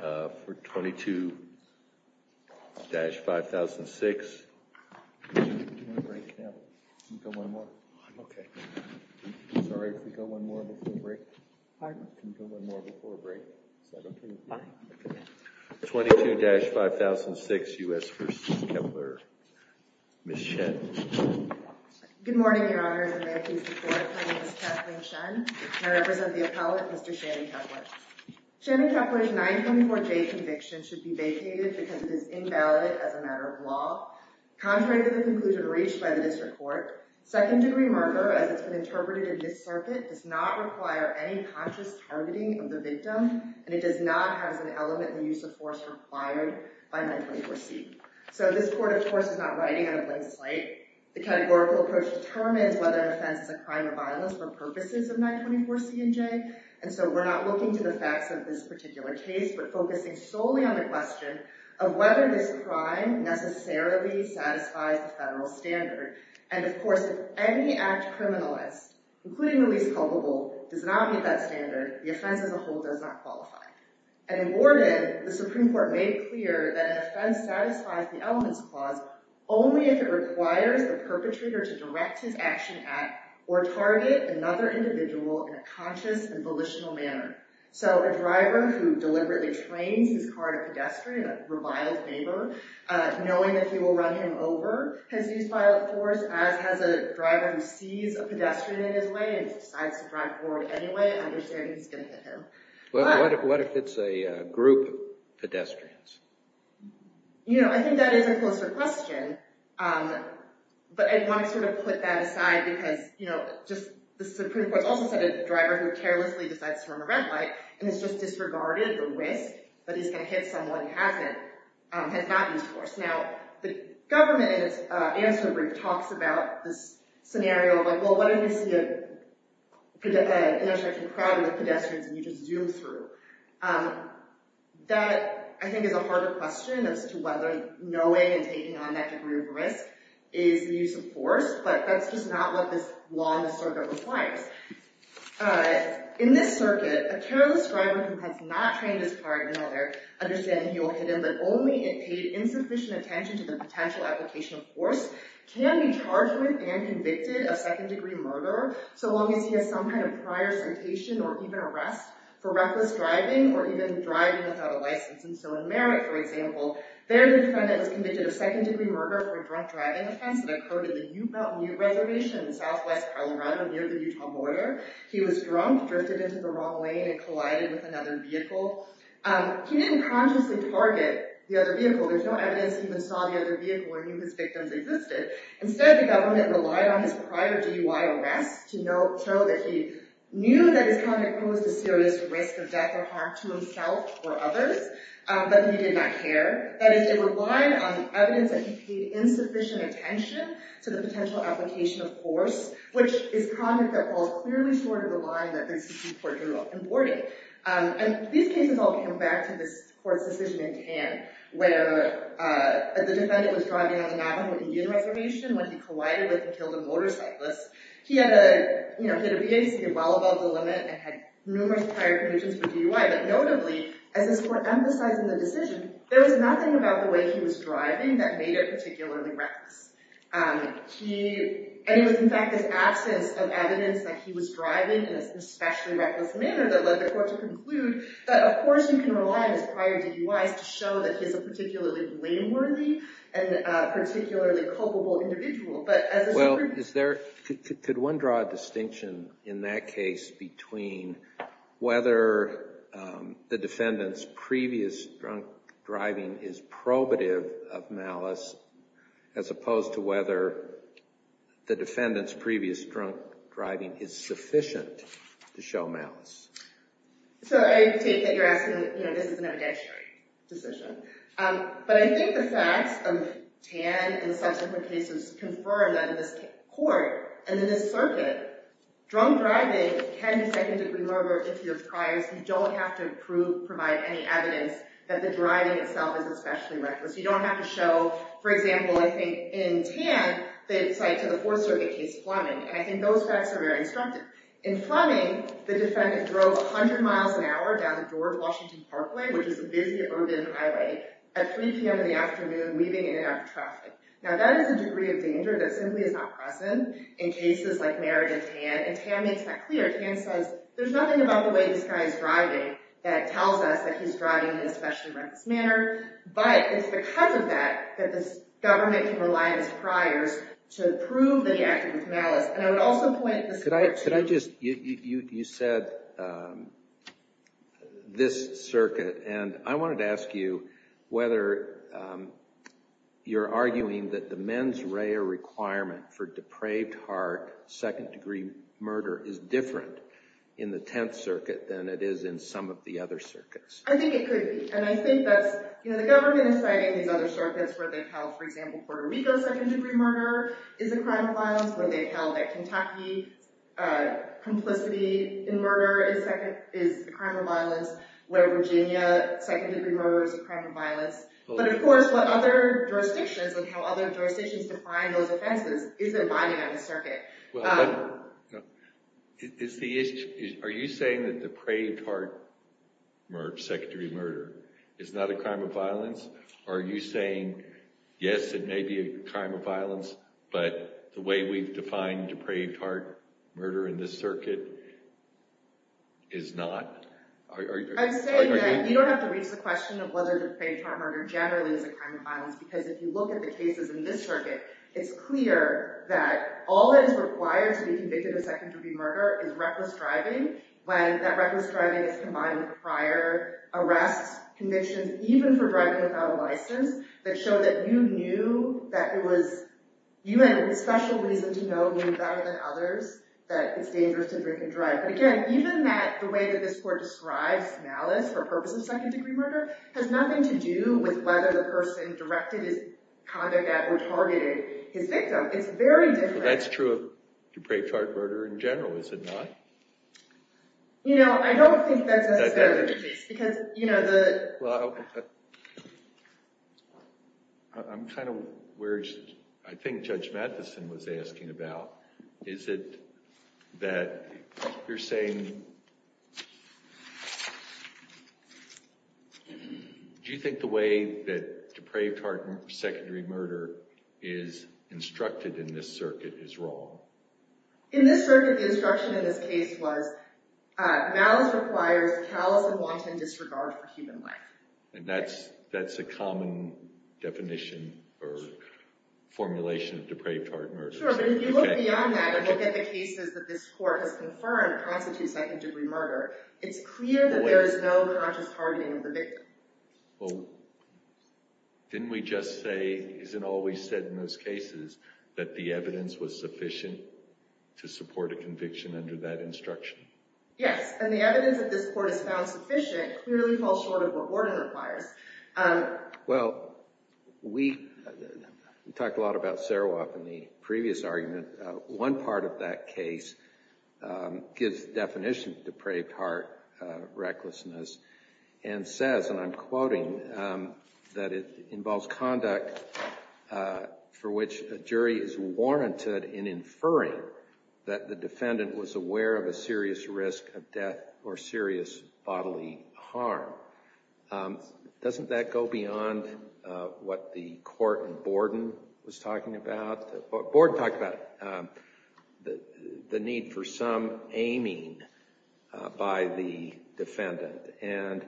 For 22-5006, 22-5006 U.S. v. Kepler, Ms. Chen. Good morning, your honors and may it please the court, my name is Kathleen Chen and I represent the appellate, Mr. Shannon Kepler. Shannon Kepler's 924J conviction should be vacated because it is invalid as a matter of law. Contrary to the conclusion reached by the district court, second degree murder, as it's been interpreted in this circuit, does not require any conscious targeting of the victim and it does not have as an element the use of force required by 924C. So this court, of course, is not writing on a blank slate. The categorical approach determines whether an offense is a crime or violence for purposes of 924C and J, and so we're not looking to the facts of this particular case but focusing solely on the question of whether this crime necessarily satisfies the federal standard. And of course, if any act criminalized, including the least culpable, does not meet that standard, the offense as a whole does not qualify. And in Morgan, the Supreme Court made it clear that an offense satisfies the elements clause only if it requires the perpetrator to direct his action at or target another individual in a conscious and volitional manner. So a driver who deliberately trains his car to pedestrian, a reviled neighbor, knowing that he will run him over has used violent force, as has a driver who sees a pedestrian in his way and decides to drive forward anyway, understanding he's going to hit him. What if it's a group of pedestrians? You know, I think that is a closer question, but I want to sort of put that aside because, you know, just the Supreme Court also said a driver who carelessly decides to run a red light and is just disregarded or risked that he's going to hit someone who has not used force. Now, the government, in its answer brief, talks about this scenario of like, well, what if you see an intersection crowded with pedestrians and you just zoom through? That, I think, is a harder question as to whether knowing and taking on that degree of risk is the use of force, but that's just not what this law in this circuit requires. In this circuit, a careless driver who has not trained his car in order, understanding he will hit him, but only if paid insufficient attention to the potential application of force can be charged with and convicted of second-degree murder so long as he has some kind of prior sentation or even arrest for reckless driving or even driving without a license. And so in Merritt, for example, there the defendant was convicted of second-degree murder for a drunk driving offense that occurred in the U-Belt Reservation in southwest Colorado near the Utah border. He was drunk, drifted into the wrong lane, and collided with another vehicle. He didn't consciously target the other vehicle. There's no evidence he even saw the other vehicle or knew his victims existed. Instead, the government relied on his prior DUI arrest to show that he knew that his conduct posed a serious risk of death or harm to himself or others, but that he did not care. That is, it relied on evidence that he paid insufficient attention to the potential application of force, which is conduct that falls clearly short of the line that the existing court drew up importing. And these cases all come back to this court's decision in Cannes, where the defendant was driving on an avenue in Indian Reservation when he collided with and killed a motorcyclist. He had a, you know, he had a VA, so he was well above the limit and had numerous prior convictions for DUI. But notably, as this court emphasized in the decision, there was nothing about the way he was driving that made it particularly reckless. And it was, in fact, this absence of evidence that he was driving in an especially reckless manner that led the court to conclude that, of course, you can rely on his prior DUIs to show that he's a particularly blameworthy and a particularly culpable individual. Well, could one draw a distinction in that case between whether the defendant's previous drunk driving is probative of malice as opposed to whether the defendant's previous drunk driving is sufficient to show malice? So I take that you're asking, you know, this is an evidentiary decision. But I think the facts of Cannes and subsequent cases confirm that in this court and in this circuit, drunk driving can be second-degree murder if he was priors. You don't have to prove, provide any evidence that the driving itself is especially reckless. You don't have to show, for example, I think in Cannes, the site to the Fourth Circuit case, Fleming. And I think those facts are very instructive. In Fleming, the defendant drove 100 miles an hour down the George Washington Parkway, which is a busy urban highway, at 3 p.m. in the afternoon, leaving in and out of traffic. Now, that is a degree of danger that simply is not present in cases like Merritt and Tann. And Tann makes that clear. Tann says there's nothing about the way this guy is driving that tells us that he's driving in an especially reckless manner. But it's because of that that this government can rely on his priors to prove that he acted with malice. Could I just – you said this circuit, and I wanted to ask you whether you're arguing that the mens rea requirement for depraved heart second-degree murder is different in the Tenth Circuit than it is in some of the other circuits. I think it could be. And I think that's – the government is citing these other circuits where they've held, for example, Puerto Rico second-degree murder is a crime of violence, where they've held that Kentucky complicity in murder is a crime of violence, where Virginia second-degree murder is a crime of violence. But, of course, what other jurisdictions and how other jurisdictions define those offenses isn't binding on the circuit. Are you saying that depraved heart second-degree murder is not a crime of violence? Are you saying, yes, it may be a crime of violence, but the way we've defined depraved heart murder in this circuit is not? I'm saying that you don't have to reach the question of whether depraved heart murder generally is a crime of violence, because if you look at the cases in this circuit, it's clear that all that is required to be convicted of second-degree murder is reckless driving, when that reckless driving is combined with prior arrests, convictions, even for driving without a license, that show that you knew that it was – you had a special reason to know better than others that it's dangerous to drink and drive. But, again, even that the way that this court describes malice for purpose of second-degree murder has nothing to do with whether the person directed his conduct at or targeted his victim. It's very different. That's true of depraved heart murder in general, is it not? You know, I don't think that's necessarily the case, because, you know, the – I'm kind of – I think Judge Matheson was asking about, is it that you're saying – do you think the way that depraved heart secondary murder is instructed in this circuit is wrong? In this circuit, the instruction in this case was malice requires callous and wanton disregard for human life. And that's a common definition or formulation of depraved heart murder. Sure, but if you look beyond that and look at the cases that this court has confirmed constitute second-degree murder, it's clear that there is no conscious targeting of the victim. Well, didn't we just say – isn't it always said in those cases that the evidence was sufficient to support a conviction under that instruction? Yes, and the evidence that this court has found sufficient clearly falls short of what warning requires. Well, we talked a lot about Sarawak in the previous argument. One part of that case gives definition of depraved heart recklessness and says, and I'm quoting, that it involves conduct for which a jury is warranted in inferring that the defendant was aware of a serious risk of death or serious bodily harm. Doesn't that go beyond what the court in Borden was talking about? Borden talked about the need for some aiming by the defendant. And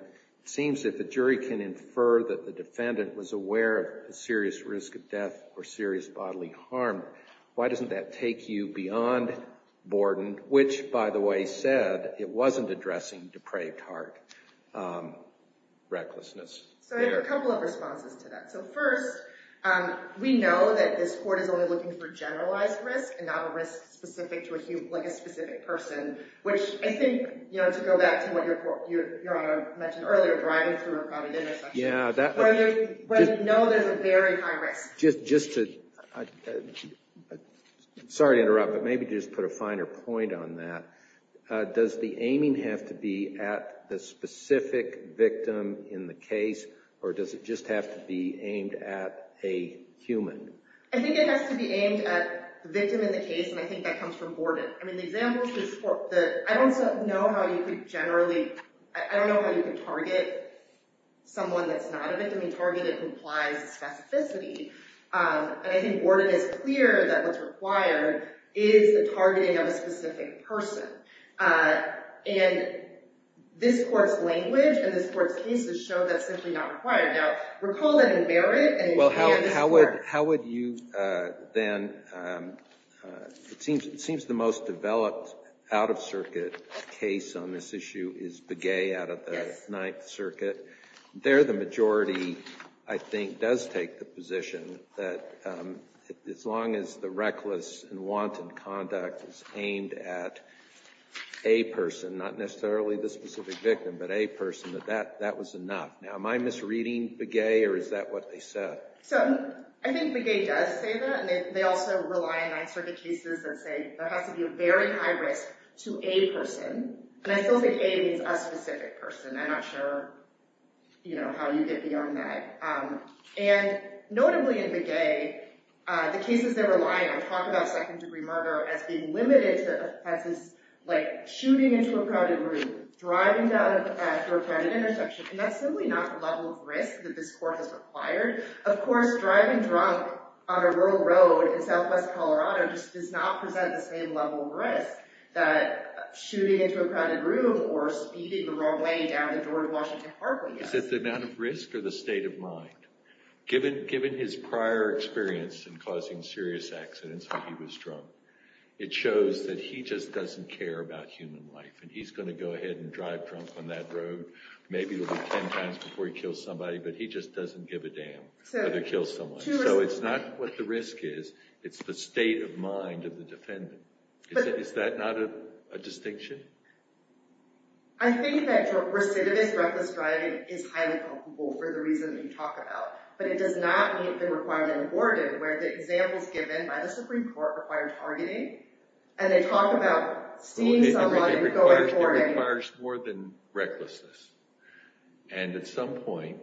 it seems that the jury can infer that the defendant was aware of a serious risk of death or serious bodily harm. Why doesn't that take you beyond Borden, which, by the way, said it wasn't addressing depraved heart? Recklessness. So I have a couple of responses to that. So first, we know that this court is only looking for generalized risk and not a risk specific to a specific person, which I think, you know, to go back to what Your Honor mentioned earlier, driving through a crowded intersection. Yeah. Where you know there's a very high risk. Sorry to interrupt, but maybe just put a finer point on that. Does the aiming have to be at the specific victim in the case, or does it just have to be aimed at a human? I think it has to be aimed at the victim in the case, and I think that comes from Borden. I don't know how you could target someone that's not a victim. Targeted implies specificity. And I think Borden is clear that what's required is the targeting of a specific person. And this court's language and this court's cases show that's simply not required. Now, recall that in Barrett. Well, how would you then – it seems the most developed out-of-circuit case on this issue is Begay out of the Ninth Circuit. There, the majority, I think, does take the position that as long as the reckless and wanted conduct is aimed at a person, not necessarily the specific victim, but a person, that that was enough. Now, am I misreading Begay, or is that what they said? So I think Begay does say that, and they also rely on Ninth Circuit cases that say there has to be a very high risk to a person. And I still think a means a specific person. I'm not sure how you get beyond that. And notably in Begay, the cases they rely on talk about second-degree murder as being limited to, like, shooting into a crowded room, driving down a crowded intersection. And that's simply not the level of risk that this court has required. Of course, driving drunk on a rural road in southwest Colorado just does not present the same level of risk that shooting into a crowded room or speeding the wrong way down the door to Washington Parkway does. Is it the amount of risk or the state of mind? Given his prior experience in causing serious accidents when he was drunk, it shows that he just doesn't care about human life, and he's going to go ahead and drive drunk on that road. Maybe it'll be 10 times before he kills somebody, but he just doesn't give a damn whether he kills someone. So it's not what the risk is. It's the state of mind of the defendant. Is that not a distinction? I think that your recidivist reckless driving is highly culpable for the reason that you talk about. But it does not mean it's been required and aborted, where the examples given by the Supreme Court require targeting, and they talk about seeing somebody and going for it. It requires more than recklessness. And at some point,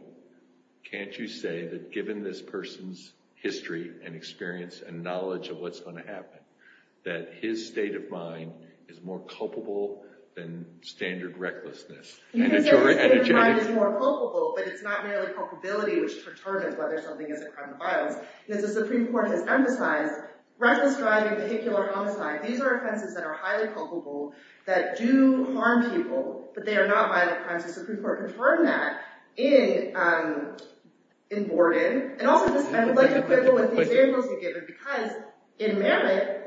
can't you say that given this person's history and experience and knowledge of what's going to happen, that his state of mind is more culpable than standard recklessness? You can say his state of mind is more culpable, but it's not merely culpability, which determines whether something is a crime or violence. The Supreme Court has emphasized reckless driving, vehicular homicide. These are offenses that are highly culpable that do harm people, but they are not violent crimes. The Supreme Court confirmed that in Borden. And also, I'd like to quibble with the examples you've given, because in Merritt,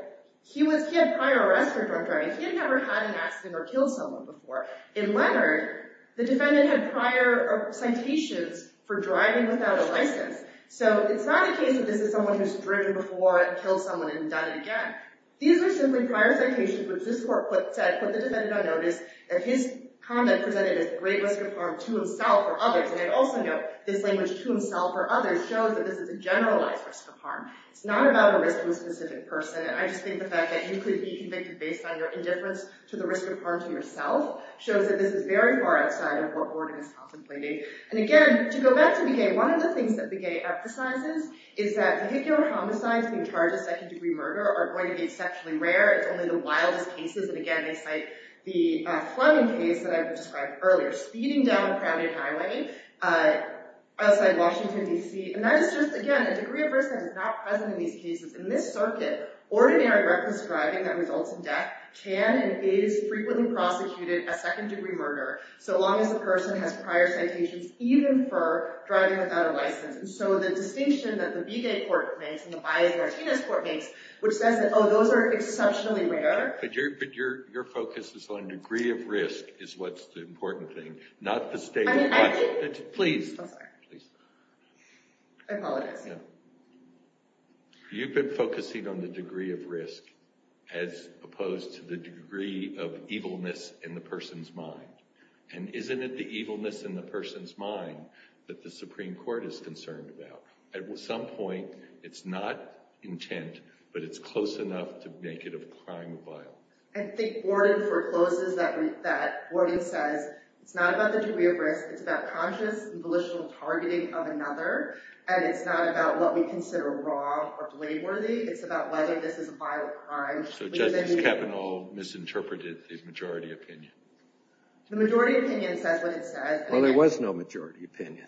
he had prior arrest for drunk driving. He had never had an accident or killed someone before. In Leonard, the defendant had prior citations for driving without a license. So, it's not a case that this is someone who's driven before and killed someone and done it again. These are simply prior citations, which this court put the defendant on notice, and his comment presented as a great risk of harm to himself or others. And I'd also note, this language, to himself or others, shows that this is a generalized risk of harm. It's not about a risk to a specific person. I just think the fact that you could be convicted based on your indifference to the risk of harm to yourself shows that this is very far outside of what Borden is contemplating. And again, to go back to Begay, one of the things that Begay emphasizes is that vehicular homicides being charged as second-degree murder are going to be exceptionally rare. It's only the wildest cases. And again, they cite the Fleming case that I've described earlier, speeding down a crowded highway outside Washington, D.C. And that is just, again, a degree of risk that is not present in these cases. In this circuit, ordinary reckless driving that results in death can and is frequently prosecuted as second-degree murder, so long as the person has prior citations, even for driving without a license. And so, the distinction that the Begay court makes and the Baez-Martinez court makes, which says that, oh, those are exceptionally rare. But your focus is on degree of risk is what's the important thing, not the state of mind. Please. I'm sorry. Please. I apologize. No. You've been focusing on the degree of risk as opposed to the degree of evilness in the person's mind. And isn't it the evilness in the person's mind that the Supreme Court is concerned about? At some point, it's not intent, but it's close enough to make it a crime of violence. I think Gordon forecloses that. Gordon says it's not about the degree of risk. It's about conscious and volitional targeting of another. And it's not about what we consider wrong or blameworthy. It's about whether this is a violent crime. So, Justice Kavanaugh misinterpreted the majority opinion. The majority opinion says what it says. Well, there was no majority opinion.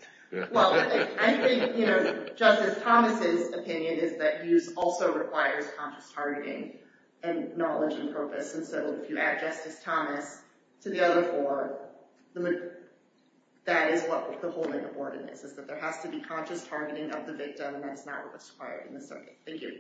Well, I think Justice Thomas' opinion is that use also requires conscious targeting and knowledge and purpose. And so if you add Justice Thomas to the other four, that is what the whole thing of Gordon is, is that there has to be conscious targeting of the victim, and that's not what's required in this circuit. Thank you.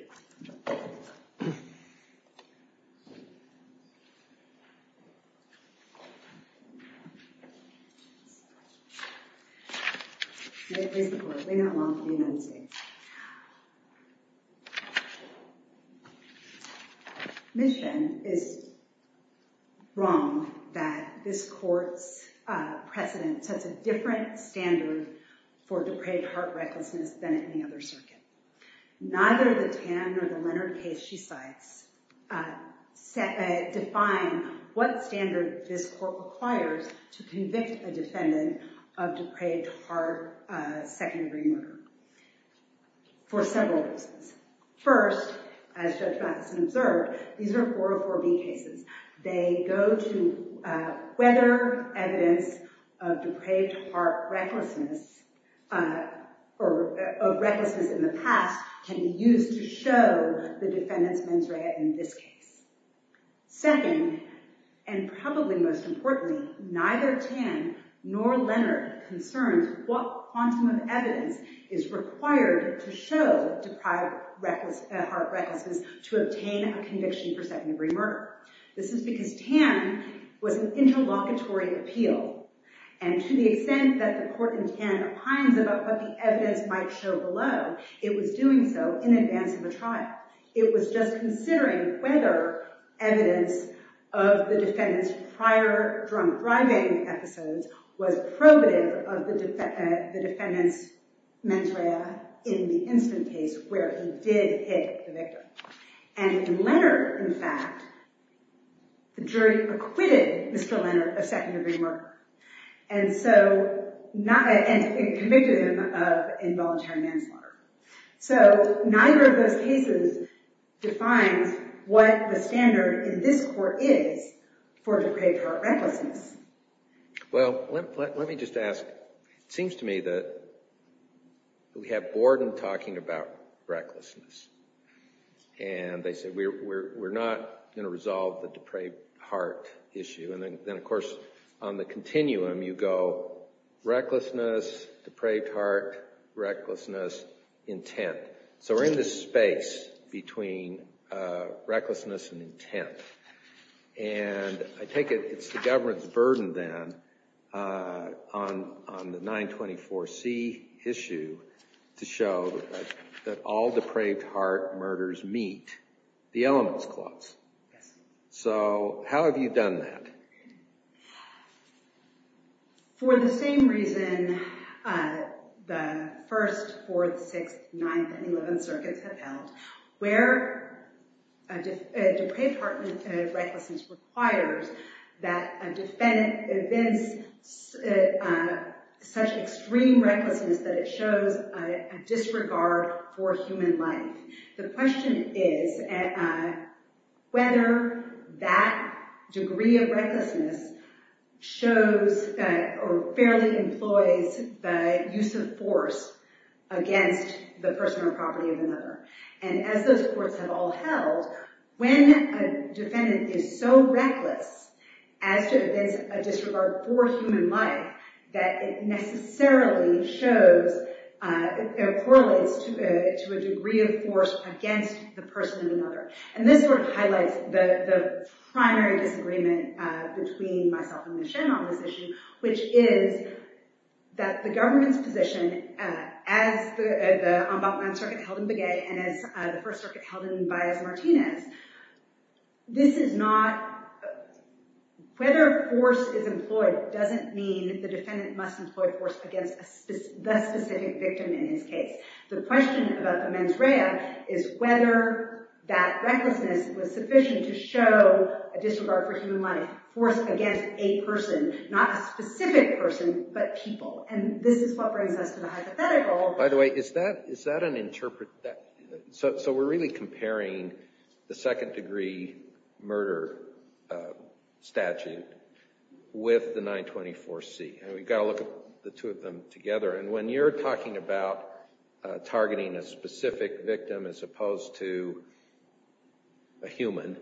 Make way for the court. Bring her along for the announcement. Ms. Shen is wrong that this court's precedent sets a different standard for depraved heart recklessness than any other circuit. Neither the Tan nor the Leonard case she cites define what standard this court requires to convict a defendant of depraved heart second-degree murder for several reasons. First, as Judge Matheson observed, these are 404B cases. They go to whether evidence of depraved heart recklessness in the past can be used to show the defendant's mens rea in this case. Second, and probably most importantly, neither Tan nor Leonard concerns what quantum of evidence is required to show depraved heart recklessness to obtain a conviction for second-degree murder. This is because Tan was an interlocutory appeal, and to the extent that the court in Tan opines about what the evidence might show below, it was doing so in advance of a trial. It was just considering whether evidence of the defendant's prior drunk driving episodes was probative of the defendant's mens rea in the instant case where he did hit the victim. And in Leonard, in fact, the jury acquitted Mr. Leonard of second-degree murder and convicted him of involuntary manslaughter. So neither of those cases defines what the standard in this court is for depraved heart recklessness. Well, let me just ask. It seems to me that we have Borden talking about recklessness. And they said, we're not going to resolve the depraved heart issue. And then, of course, on the continuum, you go recklessness, depraved heart, recklessness, intent. So we're in this space between recklessness and intent. And I take it it's the government's burden then on the 924C issue to show that all depraved heart murders meet the elements clause. So how have you done that? For the same reason the 1st, 4th, 6th, 9th, and 11th circuits have held, where a depraved heart recklessness requires that a defendant evinces such extreme recklessness that it shows a disregard for human life. The question is whether that degree of recklessness shows or fairly employs the use of force against the person or property of another. And as those courts have all held, when a defendant is so reckless as to evince a disregard for human life, that it necessarily correlates to a degree of force against the person of another. And this sort of highlights the primary disagreement between myself and Ms. Shen on this issue, which is that the government's position, as the Ombudsman circuit held in Begay and as the 1st circuit held in Valles-Martinez, this is not—whether force is employed doesn't mean the defendant must employ force against the specific victim in his case. The question about the mens rea is whether that recklessness was sufficient to show a disregard for human life, force against a person, not a specific person, but people. And this is what brings us to the hypothetical— So we're really comparing the second-degree murder statute with the 924C, and we've got to look at the two of them together. And when you're talking about targeting a specific victim as opposed to a human,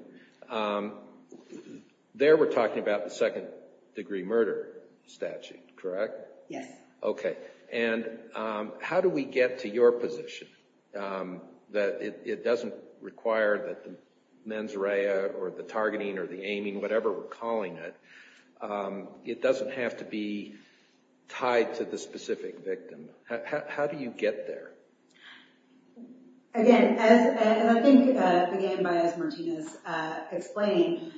there we're talking about the second-degree murder statute, correct? Yes. Okay. And how do we get to your position that it doesn't require that the mens rea or the targeting or the aiming, whatever we're calling it, it doesn't have to be tied to the specific victim? How do you get there? Again, as I think Begay and Valles-Martinez explained,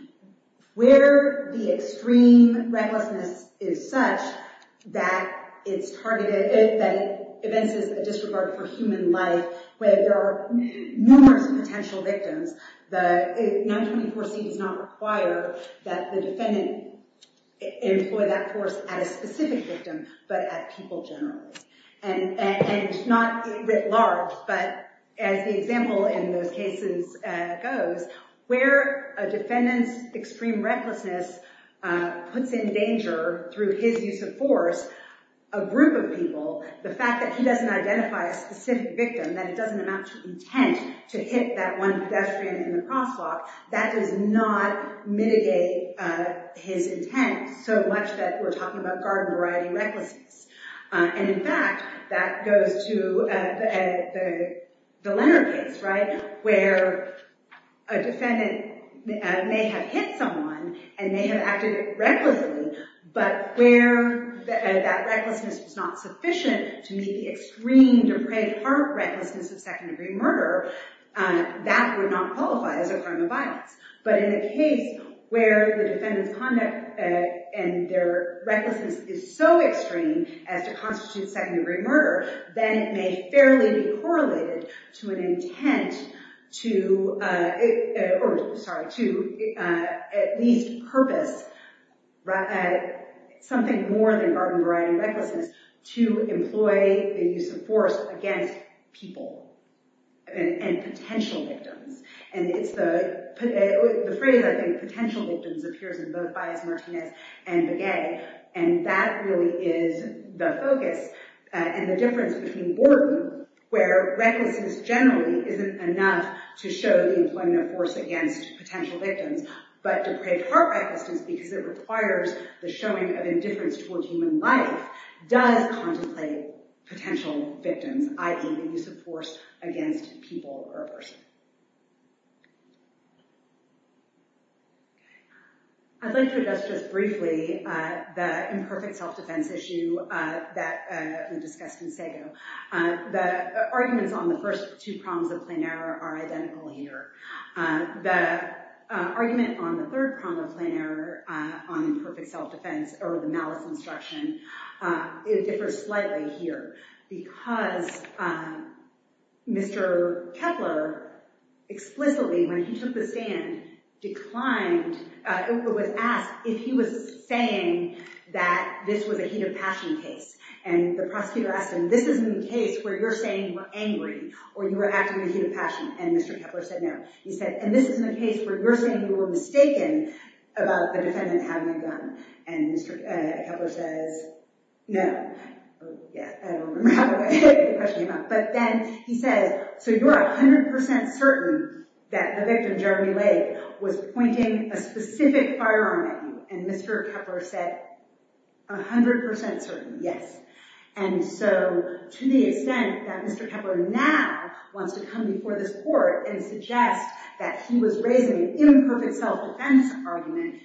where the extreme recklessness is such that it's targeted, that it evinces a disregard for human life, where there are numerous potential victims, the 924C does not require that the defendant employ that force at a specific victim, but at people generally. And not writ large, but as the example in those cases goes, where a defendant's extreme recklessness puts in danger through his use of force a group of people, the fact that he doesn't identify a specific victim, that it doesn't amount to intent to hit that one pedestrian in the crosswalk, that does not mitigate his intent so much that we're talking about garden-variety recklessness. And in fact, that goes to the Leonard case, right, where a defendant may have hit someone and may have acted recklessly, but where that recklessness was not sufficient to meet the extreme, depraved heart recklessness of second-degree murder, that would not qualify as a crime of violence. But in a case where the defendant's conduct and their recklessness is so extreme as to constitute second-degree murder, then it may fairly be correlated to an intent to at least purpose something more than garden-variety recklessness to employ the use of force against people and potential victims. And it's the phrase, I think, potential victims appears in both Baez Martinez and Begay, and that really is the focus. And the difference between Borden, where recklessness generally isn't enough to show the employment of force against potential victims, but depraved heart recklessness, because it requires the showing of indifference towards human life, does contemplate potential victims, i.e., the use of force against people or a person. I'd like to address just briefly the imperfect self-defense issue that was discussed in Sago. The arguments on the first two prongs of plain error are identical here. The argument on the third prong of plain error on imperfect self-defense, or the malice instruction, differs slightly here, because Mr. Koeppler explicitly, when he took the stand, declined, was asked if he was saying that this was a heat of passion case. And the prosecutor asked him, this isn't a case where you're saying you were angry or you were acting in a heat of passion. And Mr. Koeppler said, no. He said, and this isn't a case where you're saying you were mistaken about the defendant having a gun. And Mr. Koeppler says, no. I don't remember how the question came up. But then he says, so you're 100% certain that the victim, Jeremy Lake, was pointing a specific firearm at you. And Mr. Koeppler said, 100% certain, yes. And so, to the extent that Mr. Koeppler now wants to come before this court and suggest that he was raising an imperfect self-defense argument,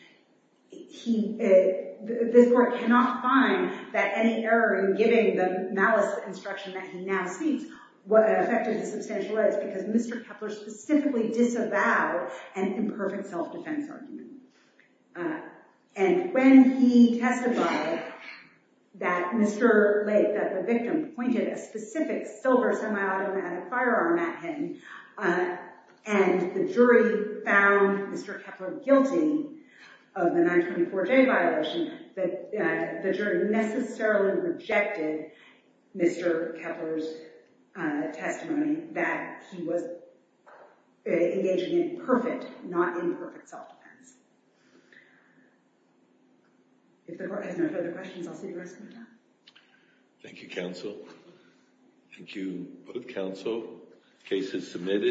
this court cannot find that any error in giving the malice instruction that he now seeks affected his substantial rights, because Mr. Koeppler specifically disavowed an imperfect self-defense argument. And when he testified that the victim pointed a specific silver semi-automatic firearm at him, and the jury found Mr. Koeppler guilty of the 924J violation, the jury necessarily rejected Mr. Koeppler's testimony that he was engaging in imperfect, not imperfect self-defense. If the court has no further questions, I'll see you the rest of the time. Thank you, counsel. Thank you, both counsel. Case is submitted.